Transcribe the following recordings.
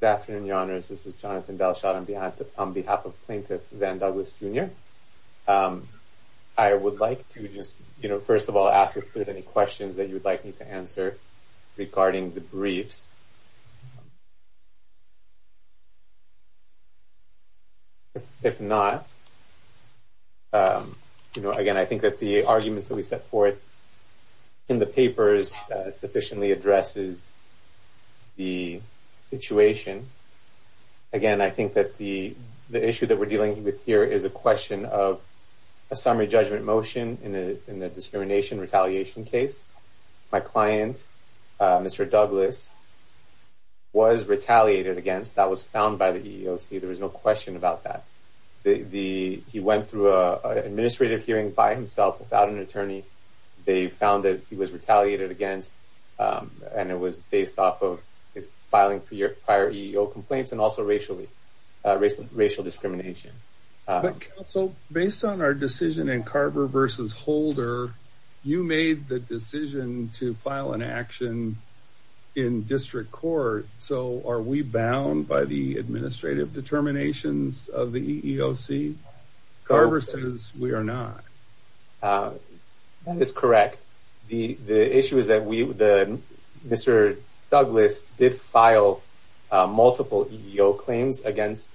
Good afternoon, Your Honors. This is Jonathan Belshot on behalf of Plaintiff Van Douglas, Jr. I would like to just, you know, first of all, ask if there's any questions that you would like me to answer regarding the briefs. If not, you know, again, I think that the arguments that we set forth in the papers sufficiently addresses the situation. Again, I think that the issue that we're dealing with here is a question of a summary judgment motion in the discrimination retaliation case. My client, Mr. Douglas, was retaliated against. That was found by the EEOC. There was no question about that. He went through an administrative hearing by himself without an attorney. They found that he was retaliated against, and it was based off of his filing prior EEO complaints and also racial discrimination. Based on our decision in Carver v. Holder, you made the decision to file an action in district court. So are we bound by the administrative determinations of the EEOC? Carver says we are not. That is correct. The issue is that Mr. Douglas did file multiple EEO claims against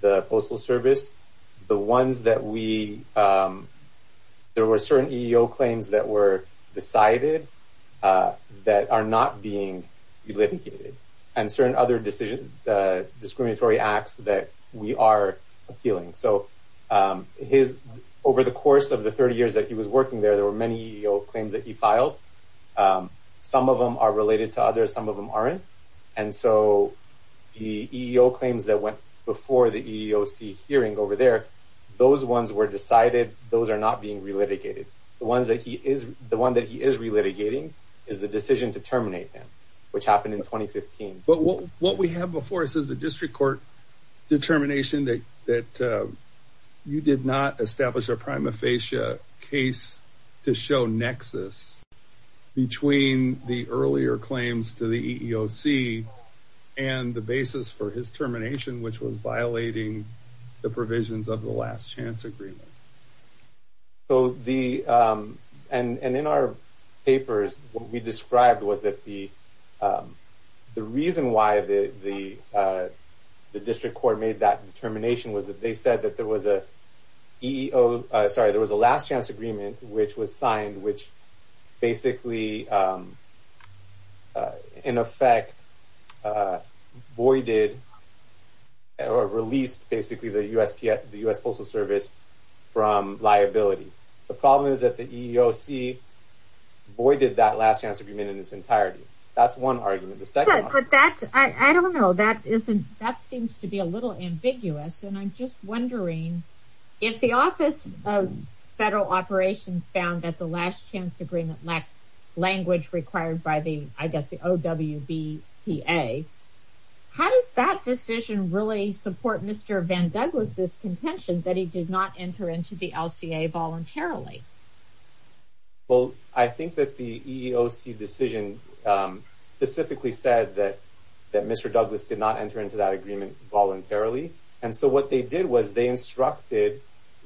the Postal Service. There were certain EEO claims that were decided that are not being litigated and certain other discriminatory acts that we are appealing. Over the course of the 30 years that he was working there, there were many EEO claims that he filed. Some of them are related to others. Some of them aren't. The EEO claims that went before the EEOC hearing over there, those ones were decided. Those are not being relitigated. The one that he is relitigating is the decision to terminate him, which happened in 2015. But what we have before us is a district court determination that you did not establish a prima facie case to show nexus between the earlier claims to the EEOC and the basis for his termination, which was violating the provisions of the last chance agreement. In our papers, what we described was that the reason why the district court made that determination was that they said that there was a last chance agreement which was signed, which basically, in effect, voided or released the U.S. Postal Service from liability. The problem is that the EEOC voided that last chance agreement in its entirety. That's one argument. I don't know. That seems to be a little ambiguous. I'm just wondering if the Office of Federal Operations found that the last chance agreement lacked language required by the OWBPA, how does that decision really support Mr. Van Douglas' contention that he did not enter into the LCA voluntarily? Well, I think that the EEOC decision specifically said that Mr. Douglas did not enter into that agreement voluntarily. And so what they did was they instructed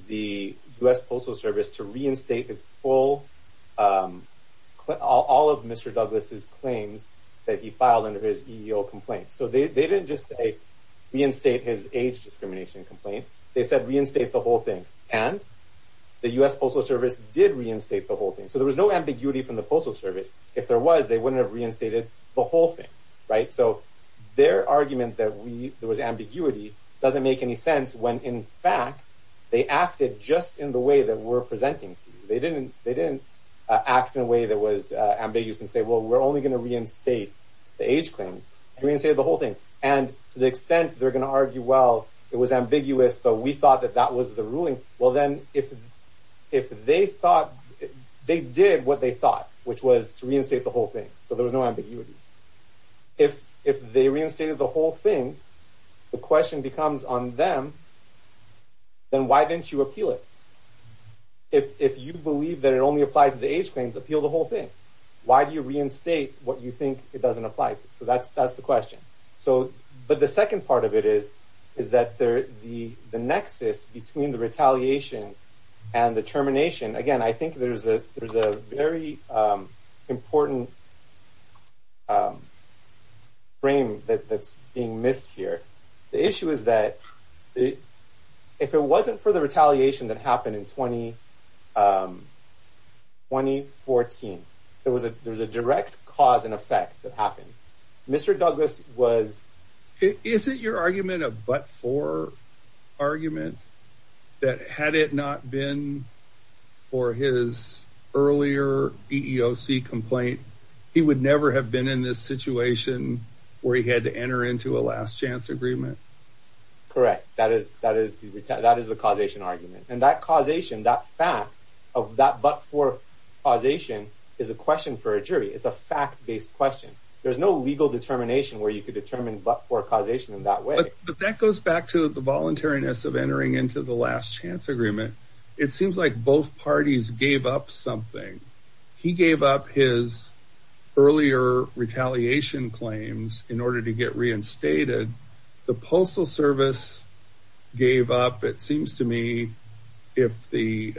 the U.S. Postal Service to reinstate all of Mr. Douglas' claims that he filed under his EEO complaint. So they didn't just reinstate his age discrimination complaint, they said reinstate the whole thing. And the U.S. Postal Service did reinstate the whole thing. So there was no ambiguity from the Postal Service. If there was, they wouldn't have reinstated the whole thing. So their argument that there was ambiguity doesn't make any sense when, in fact, they acted just in the way that we're presenting to you. They didn't act in a way that was ambiguous and say, well, we're only going to reinstate the age claims. They reinstated the whole thing. And to the extent they're going to argue, well, it was ambiguous, but we thought that that was the ruling. Well, then if they thought, they did what they thought, which was to reinstate the whole thing. So there was no ambiguity. If they reinstated the whole thing, the question becomes on them, then why didn't you appeal it? If you believe that it only applied to the age claims, appeal the whole thing. Why do you reinstate what you think it doesn't apply to? So that's the question. But the second part of it is that the nexus between the retaliation and the termination, again, I think there's a very important frame that's being missed here. The issue is that if it wasn't for the retaliation that happened in 2014, there was a direct cause and effect that happened. Isn't your argument a but-for argument? That had it not been for his earlier EEOC complaint, he would never have been in this situation where he had to enter into a last chance agreement? Correct. That is the causation argument. And that causation, that fact of that but-for causation is a question for a jury. It's a fact-based question. There's no legal determination where you could determine but-for causation in that way. But that goes back to the voluntariness of entering into the last chance agreement. It seems like both parties gave up something. He gave up his earlier retaliation claims in order to get reinstated. The Postal Service gave up, it seems to me, if the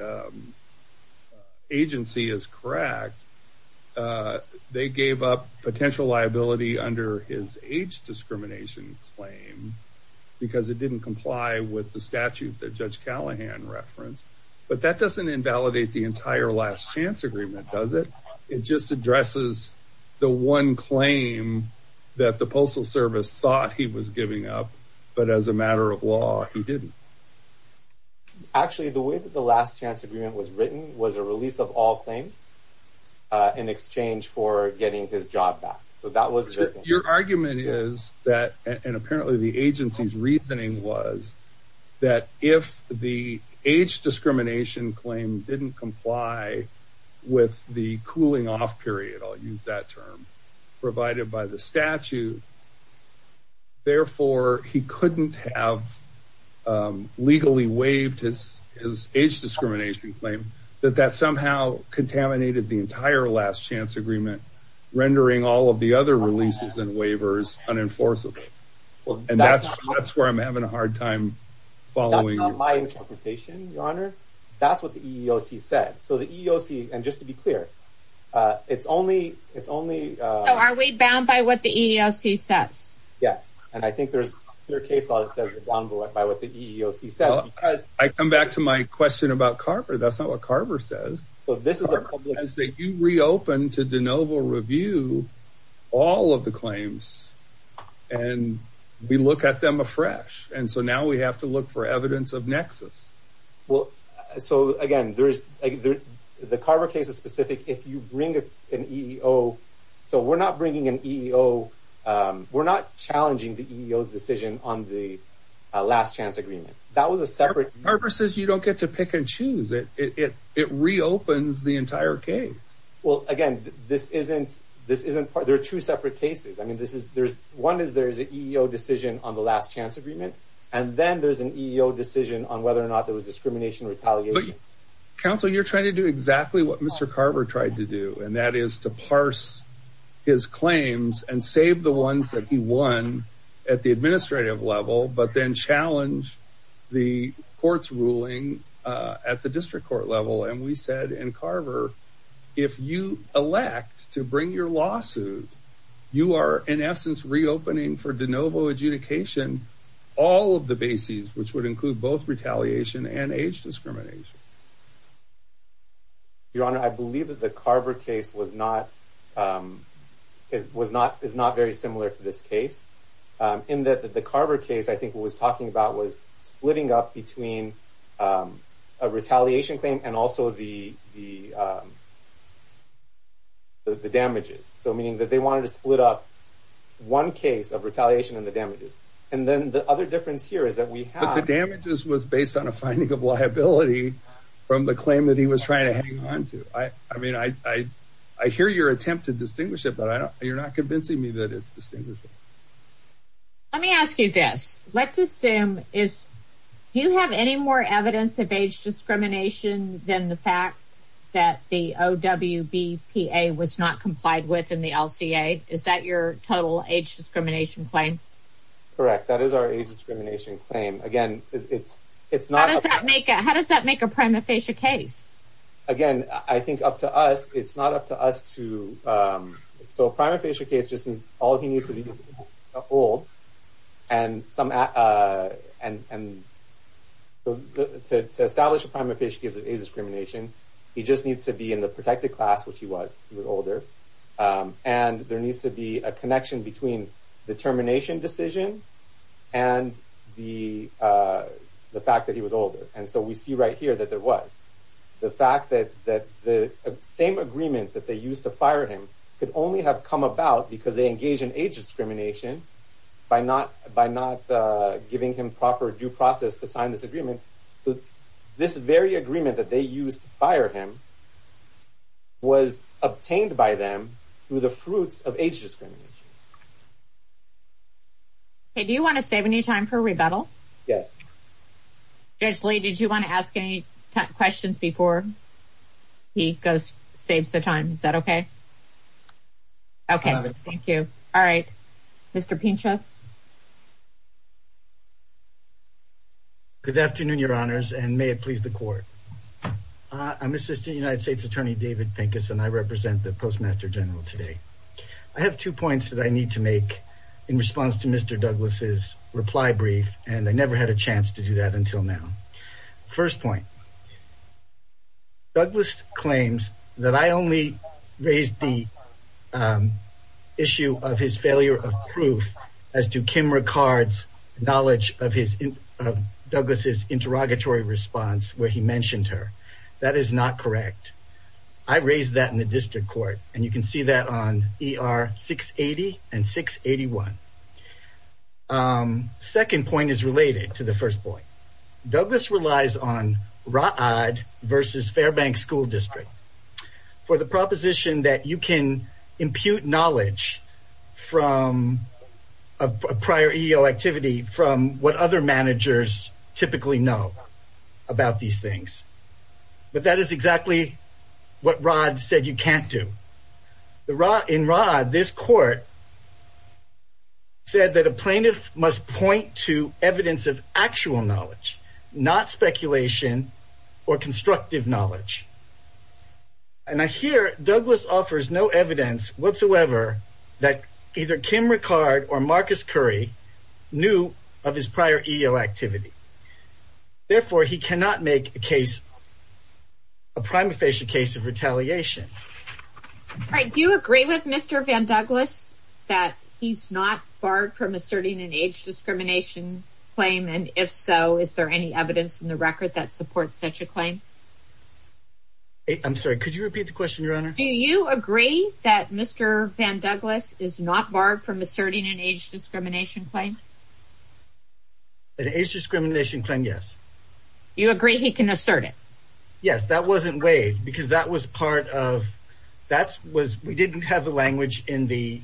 agency is correct, they gave up potential liability under his age discrimination claim because it didn't comply with the statute that Judge Callahan referenced. But that doesn't invalidate the entire last chance agreement, does it? It just addresses the one claim that the Postal Service thought he was giving up, but as a matter of law, he didn't. Actually, the way that the last chance agreement was written was a release of all claims in exchange for getting his job back. Your argument is that, and apparently the agency's reasoning was, that if the age discrimination claim didn't comply with the cooling off period, I'll use that term, provided by the statute, therefore he couldn't have legally waived his age discrimination claim, that that somehow contaminated the entire last chance agreement, rendering all of the other releases and waivers unenforceable. And that's where I'm having a hard time following. That's not my interpretation, Your Honor. That's what the EEOC said. So the EEOC, and just to be clear, it's only- So are we bound by what the EEOC says? Yes, and I think there's a clear case law that says we're bound by what the EEOC says. Well, I come back to my question about Carver. That's not what Carver says. Well, this is a- Carver says that you reopen to de novo review all of the claims, and we look at them afresh. And so now we have to look for evidence of nexus. Well, so again, the Carver case is specific. If you bring an EEO, so we're not bringing an EEO, we're not challenging the EEO's decision on the last chance agreement. That was a separate- Carver says you don't get to pick and choose. It reopens the entire case. Well, again, this isn't- there are two separate cases. I mean, one is there's an EEO decision on the last chance agreement, and then there's an EEO decision on whether or not there was discrimination or retaliation. Counsel, you're trying to do exactly what Mr. Carver tried to do, and that is to parse his claims and save the ones that he won at the administrative level, but then challenge the court's ruling at the district court level. And we said in Carver, if you elect to bring your lawsuit, you are, in essence, reopening for de novo adjudication all of the bases, which would include both retaliation and age discrimination. Your Honor, I believe that the Carver case was not- is not very similar to this case, in that the Carver case, I think what it was talking about was splitting up between a retaliation claim and also the damages. So meaning that they wanted to split up one case of retaliation and the damages. And then the other difference here is that we have- Mr. Carver's claim was based on a finding of liability from the claim that he was trying to hang on to. I mean, I hear your attempt to distinguish it, but you're not convincing me that it's distinguishable. Let me ask you this. Let's assume if- do you have any more evidence of age discrimination than the fact that the OWBPA was not complied with in the LCA? Is that your total age discrimination claim? Correct. That is our age discrimination claim. Again, it's not- How does that make a prima facie case? Again, I think up to us, it's not up to us to- so a prima facie case just means all he needs to be is old and some- and to establish a prima facie case of age discrimination, he just needs to be in the protected class, which he was. He was older. And there needs to be a connection between the termination decision and the fact that he was older. And so we see right here that there was. The fact that the same agreement that they used to fire him could only have come about because they engage in age discrimination by not giving him proper due process to sign this agreement. So this very agreement that they used to fire him was obtained by them through the fruits of age discrimination. Okay. Do you want to save any time for rebuttal? Yes. Judge Lee, did you want to ask any questions before he goes- saves the time? Is that okay? I'll have it. Okay. Thank you. All right. Mr. Pinchas? Good afternoon, Your Honors, and may it please the court. I'm Assistant United States Attorney David Pinchas, and I represent the Postmaster General today. I have two points that I need to make in response to Mr. Douglas' reply brief, and I never had a chance to do that until now. First point, Douglas claims that I only raised the issue of his failure of proof as to Kim Ricard's knowledge of his- of Douglas' interrogatory response where he mentioned her. That is not correct. I raised that in the district court, and you can see that on ER 680 and 681. Second point is related to the first point. Douglas relies on Rod versus Fairbank School District for the proposition that you can impute knowledge from a prior EEO activity from what other managers typically know about these things. But that is exactly what Rod said you can't do. In Rod, this court said that a plaintiff must point to evidence of actual knowledge, not speculation or constructive knowledge. And I hear Douglas offers no evidence whatsoever that either Kim Ricard or Marcus Curry knew of his prior EEO activity. Therefore, he cannot make a case- a prima facie case of retaliation. Do you agree with Mr. Van Douglas that he's not barred from asserting an age discrimination claim? And if so, is there any evidence in the record that supports such a claim? I'm sorry, could you repeat the question, Your Honor? Do you agree that Mr. Van Douglas is not barred from asserting an age discrimination claim? An age discrimination claim, yes. You agree he can assert it? Yes, that wasn't waived because that was part of- we didn't have the language in the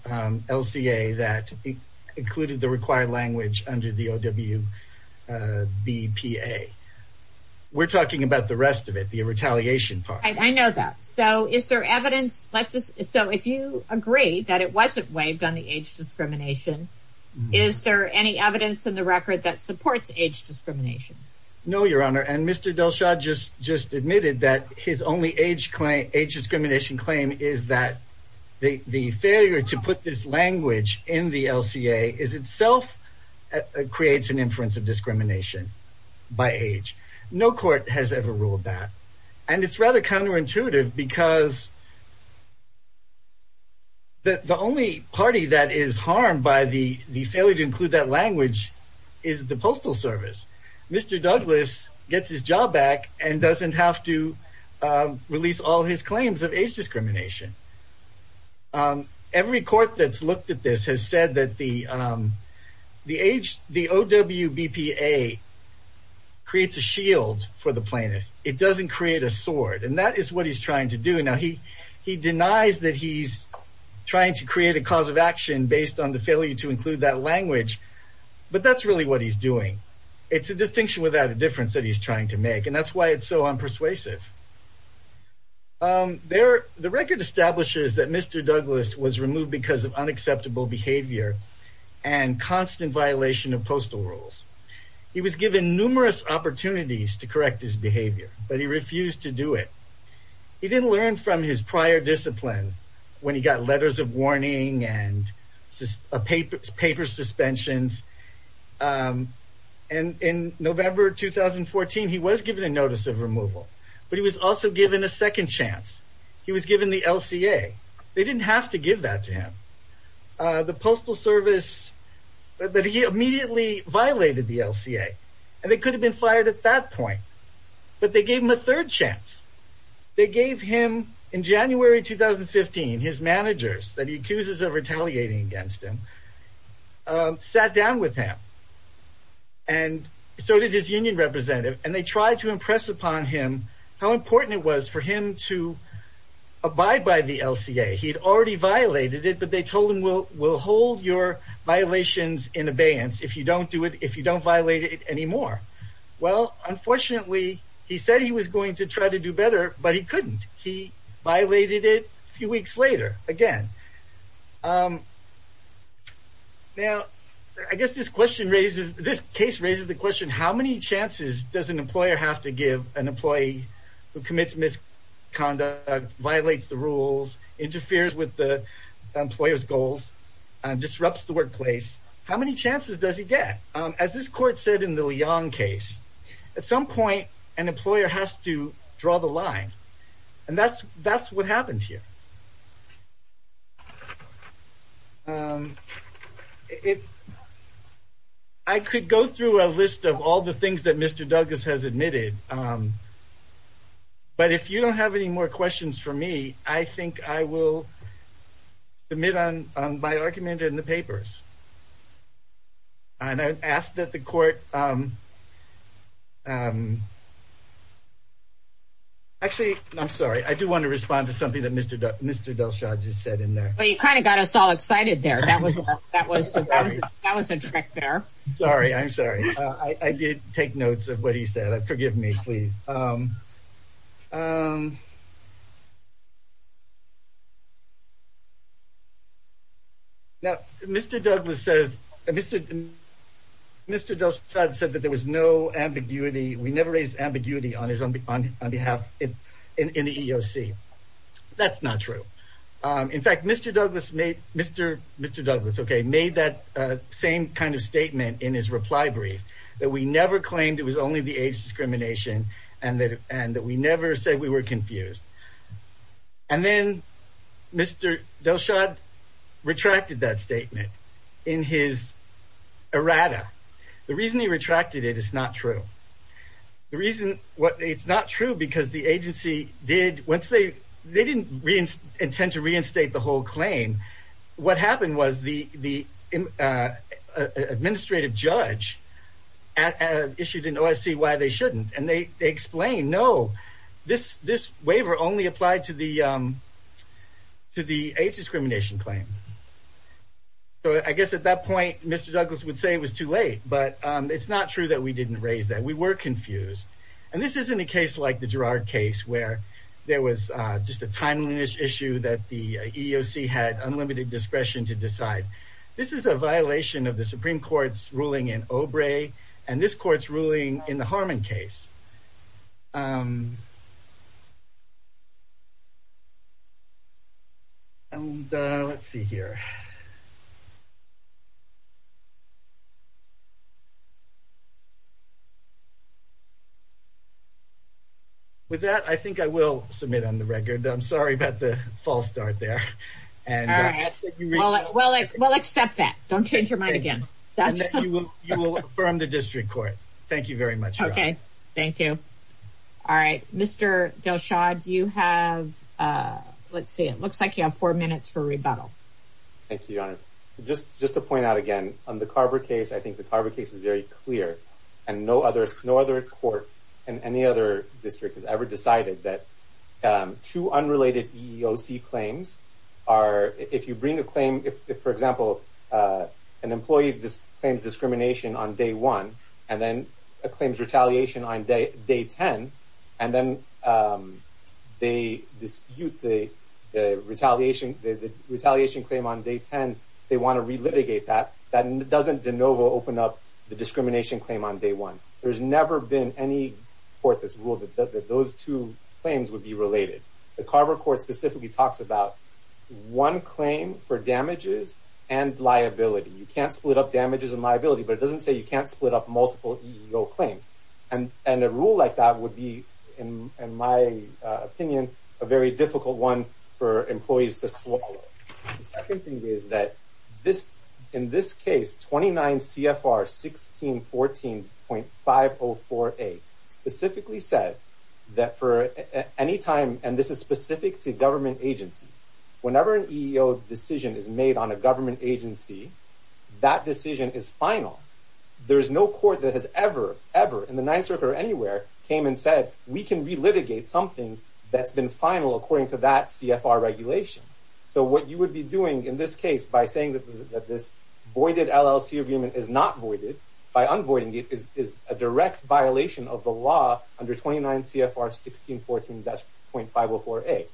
LCA that included the required language under the OWBPA. We're talking about the rest of it, the retaliation part. I know that. So is there evidence- so if you agree that it wasn't waived on the age discrimination, is there any evidence in the record that supports age discrimination? No, Your Honor, and Mr. DelShad just admitted that his only age discrimination claim is that the failure to put this language in the LCA is itself- creates an inference of discrimination by age. No court has ever ruled that. And it's rather counterintuitive because the only party that is harmed by the failure to include that language is the Postal Service. Mr. Douglas gets his job back and doesn't have to release all his claims of age discrimination. Every court that's looked at this has said that the OWBPA creates a shield for the plaintiff. It doesn't create a sword, and that is what he's trying to do. Now, he denies that he's trying to create a cause of action based on the failure to include that language, but that's really what he's doing. It's a distinction without a difference that he's trying to make, and that's why it's so unpersuasive. The record establishes that Mr. Douglas was removed because of unacceptable behavior and constant violation of postal rules. He was given numerous opportunities to correct his behavior, but he refused to do it. He didn't learn from his prior discipline when he got letters of warning and paper suspensions. In November 2014, he was given a notice of removal, but he was also given a second chance. He was given the LCA. They didn't have to give that to him. The Postal Service immediately violated the LCA, and they could have been fired at that point, but they gave him a third chance. They gave him, in January 2015, his managers that he accuses of retaliating against him, sat down with him, and so did his union representative, and they tried to impress upon him how important it was for him to abide by the LCA. He'd already violated it, but they told him, we'll hold your violations in abeyance if you don't violate it anymore. Well, unfortunately, he said he was going to try to do better, but he couldn't. He violated it a few weeks later again. Now, I guess this case raises the question, how many chances does an employer have to give an employee who commits misconduct, violates the rules, interferes with the employer's goals, and disrupts the workplace? How many chances does he get? As this court said in the Leong case, at some point, an employer has to draw the line, and that's what happens here. I could go through a list of all the things that Mr. Douglas has admitted, but if you don't have any more questions for me, I think I will submit my argument in the papers. Actually, I'm sorry. I do want to respond to something that Mr. Delshad just said in there. Well, you kind of got us all excited there. That was a trick there. Sorry, I'm sorry. I did take notes of what he said. Forgive me, please. Now, Mr. Delshad said that there was no ambiguity. We never raised ambiguity on his behalf in the EEOC. That's not true. In fact, Mr. Douglas made that same kind of statement in his reply brief, that we never claimed it was only the age discrimination, and that we never said we were confused. And then Mr. Delshad retracted that statement in his errata. The reason he retracted it is not true. It's not true because the agency didn't intend to reinstate the whole claim. What happened was the administrative judge issued an OSC why they shouldn't, and they explained, no, this waiver only applied to the age discrimination claim. So I guess at that point, Mr. Douglas would say it was too late, but it's not true that we didn't raise that. We were confused. And this isn't a case like the Girard case where there was just a timeliness issue that the EEOC had unlimited discretion to decide. This is a violation of the Supreme Court's ruling in Obrey and this court's ruling in the Harmon case. And let's see here. With that, I think I will submit on the record. I'm sorry about the false start there. Well, we'll accept that. Don't change your mind again. You will affirm the district court. Thank you very much. OK, thank you. All right. Mr. Delshad, you have let's see, it looks like you have four minutes for rebuttal. Thank you, Your Honor. Just just to point out again on the Carver case, I think the Carver case is very clear. And no other court in any other district has ever decided that two unrelated EEOC claims are if you bring a claim, if, for example, an employee claims discrimination on day one and then claims retaliation on day 10, and then they dispute the retaliation, the retaliation claim on day 10, they want to relitigate that. That doesn't de novo open up the discrimination claim on day one. There's never been any court that's ruled that those two claims would be related. The Carver court specifically talks about one claim for damages and liability. You can't split up damages and liability, but it doesn't say you can't split up multiple claims. And and a rule like that would be, in my opinion, a very difficult one for employees to swallow. The second thing is that this in this case, 29 CFR 1614.5048 specifically says that for any time, and this is specific to government agencies, whenever an EEOC decision is made on a government agency, that decision is final. There is no court that has ever, ever in the Ninth Circuit or anywhere came and said, we can relitigate something that's been final according to that CFR regulation. So what you would be doing in this case, by saying that this voided LLC agreement is not voided, by unvoiding it is a direct violation of the law under 29 CFR 1614.5048.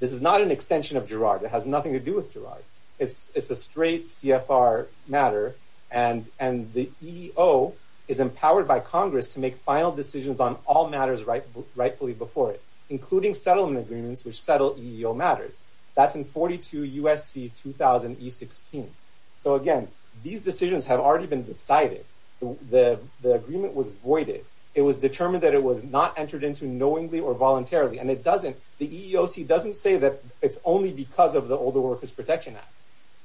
This is not an extension of Girard. It has nothing to do with Girard. It's a straight CFR matter. And the EEO is empowered by Congress to make final decisions on all matters rightfully before it, including settlement agreements, which settle EEO matters. That's in 42 USC 2000 E16. So again, these decisions have already been decided. The agreement was voided. It was determined that it was not entered into knowingly or voluntarily. And it doesn't, the EEOC doesn't say that it's only because of the Older Workers Protection Act.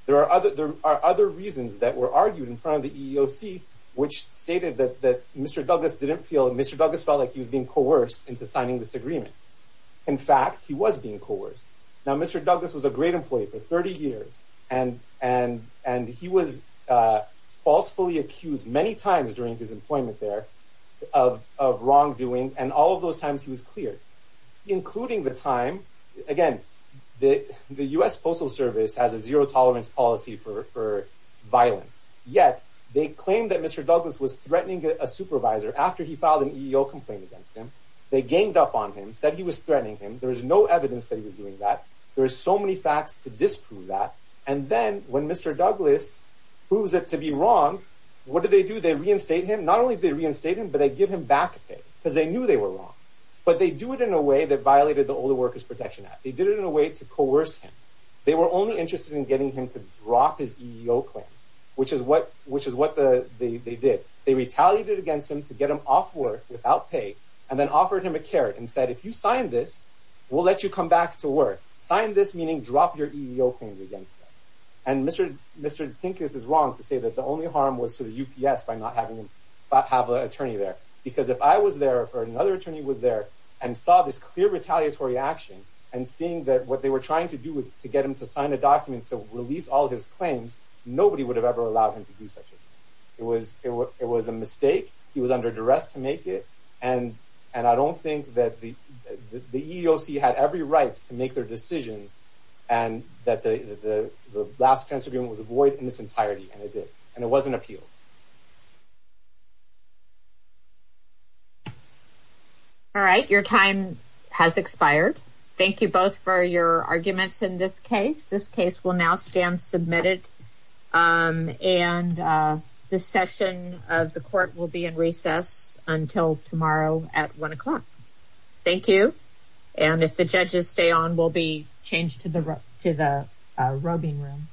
There are other reasons that were argued in front of the EEOC, which stated that Mr. Douglas didn't feel, Mr. Douglas felt like he was being coerced into signing this agreement. In fact, he was being coerced. Now, Mr. Douglas was a great employee for 30 years. And he was falsely accused many times during his employment there of wrongdoing. And all of those times he was cleared, including the time, again, the U.S. Postal Service has a zero tolerance policy for violence. Yet they claim that Mr. Douglas was threatening a supervisor after he filed an EEO complaint against him. They ganged up on him, said he was threatening him. There is no evidence that he was doing that. There are so many facts to disprove that. And then when Mr. Douglas proves it to be wrong, what do they do? They reinstate him. Not only do they reinstate him, but they give him back pay because they knew they were wrong. But they do it in a way that violated the Older Workers Protection Act. They did it in a way to coerce him. They were only interested in getting him to drop his EEO claims, which is what they did. They retaliated against him to get him off work without pay and then offered him a carrot and said, if you sign this, we'll let you come back to work. Sign this meaning drop your EEO claims against us. And Mr. Pincus is wrong to say that the only harm was to the UPS by not having him have an attorney there. Because if I was there or another attorney was there and saw this clear retaliatory action and seeing that what they were trying to do was to get him to sign a document to release all his claims, nobody would have ever allowed him to do such a thing. It was a mistake. He was under duress to make it. And I don't think that the EEOC had every right to make their decisions and that the last tense agreement was void in its entirety, and it did. And it was an appeal. All right. Your time has expired. Thank you both for your arguments in this case. This case will now stand submitted. And the session of the court will be in recess until tomorrow at 1 o'clock. Thank you. And if the judges stay on, we'll be changed to the roving room.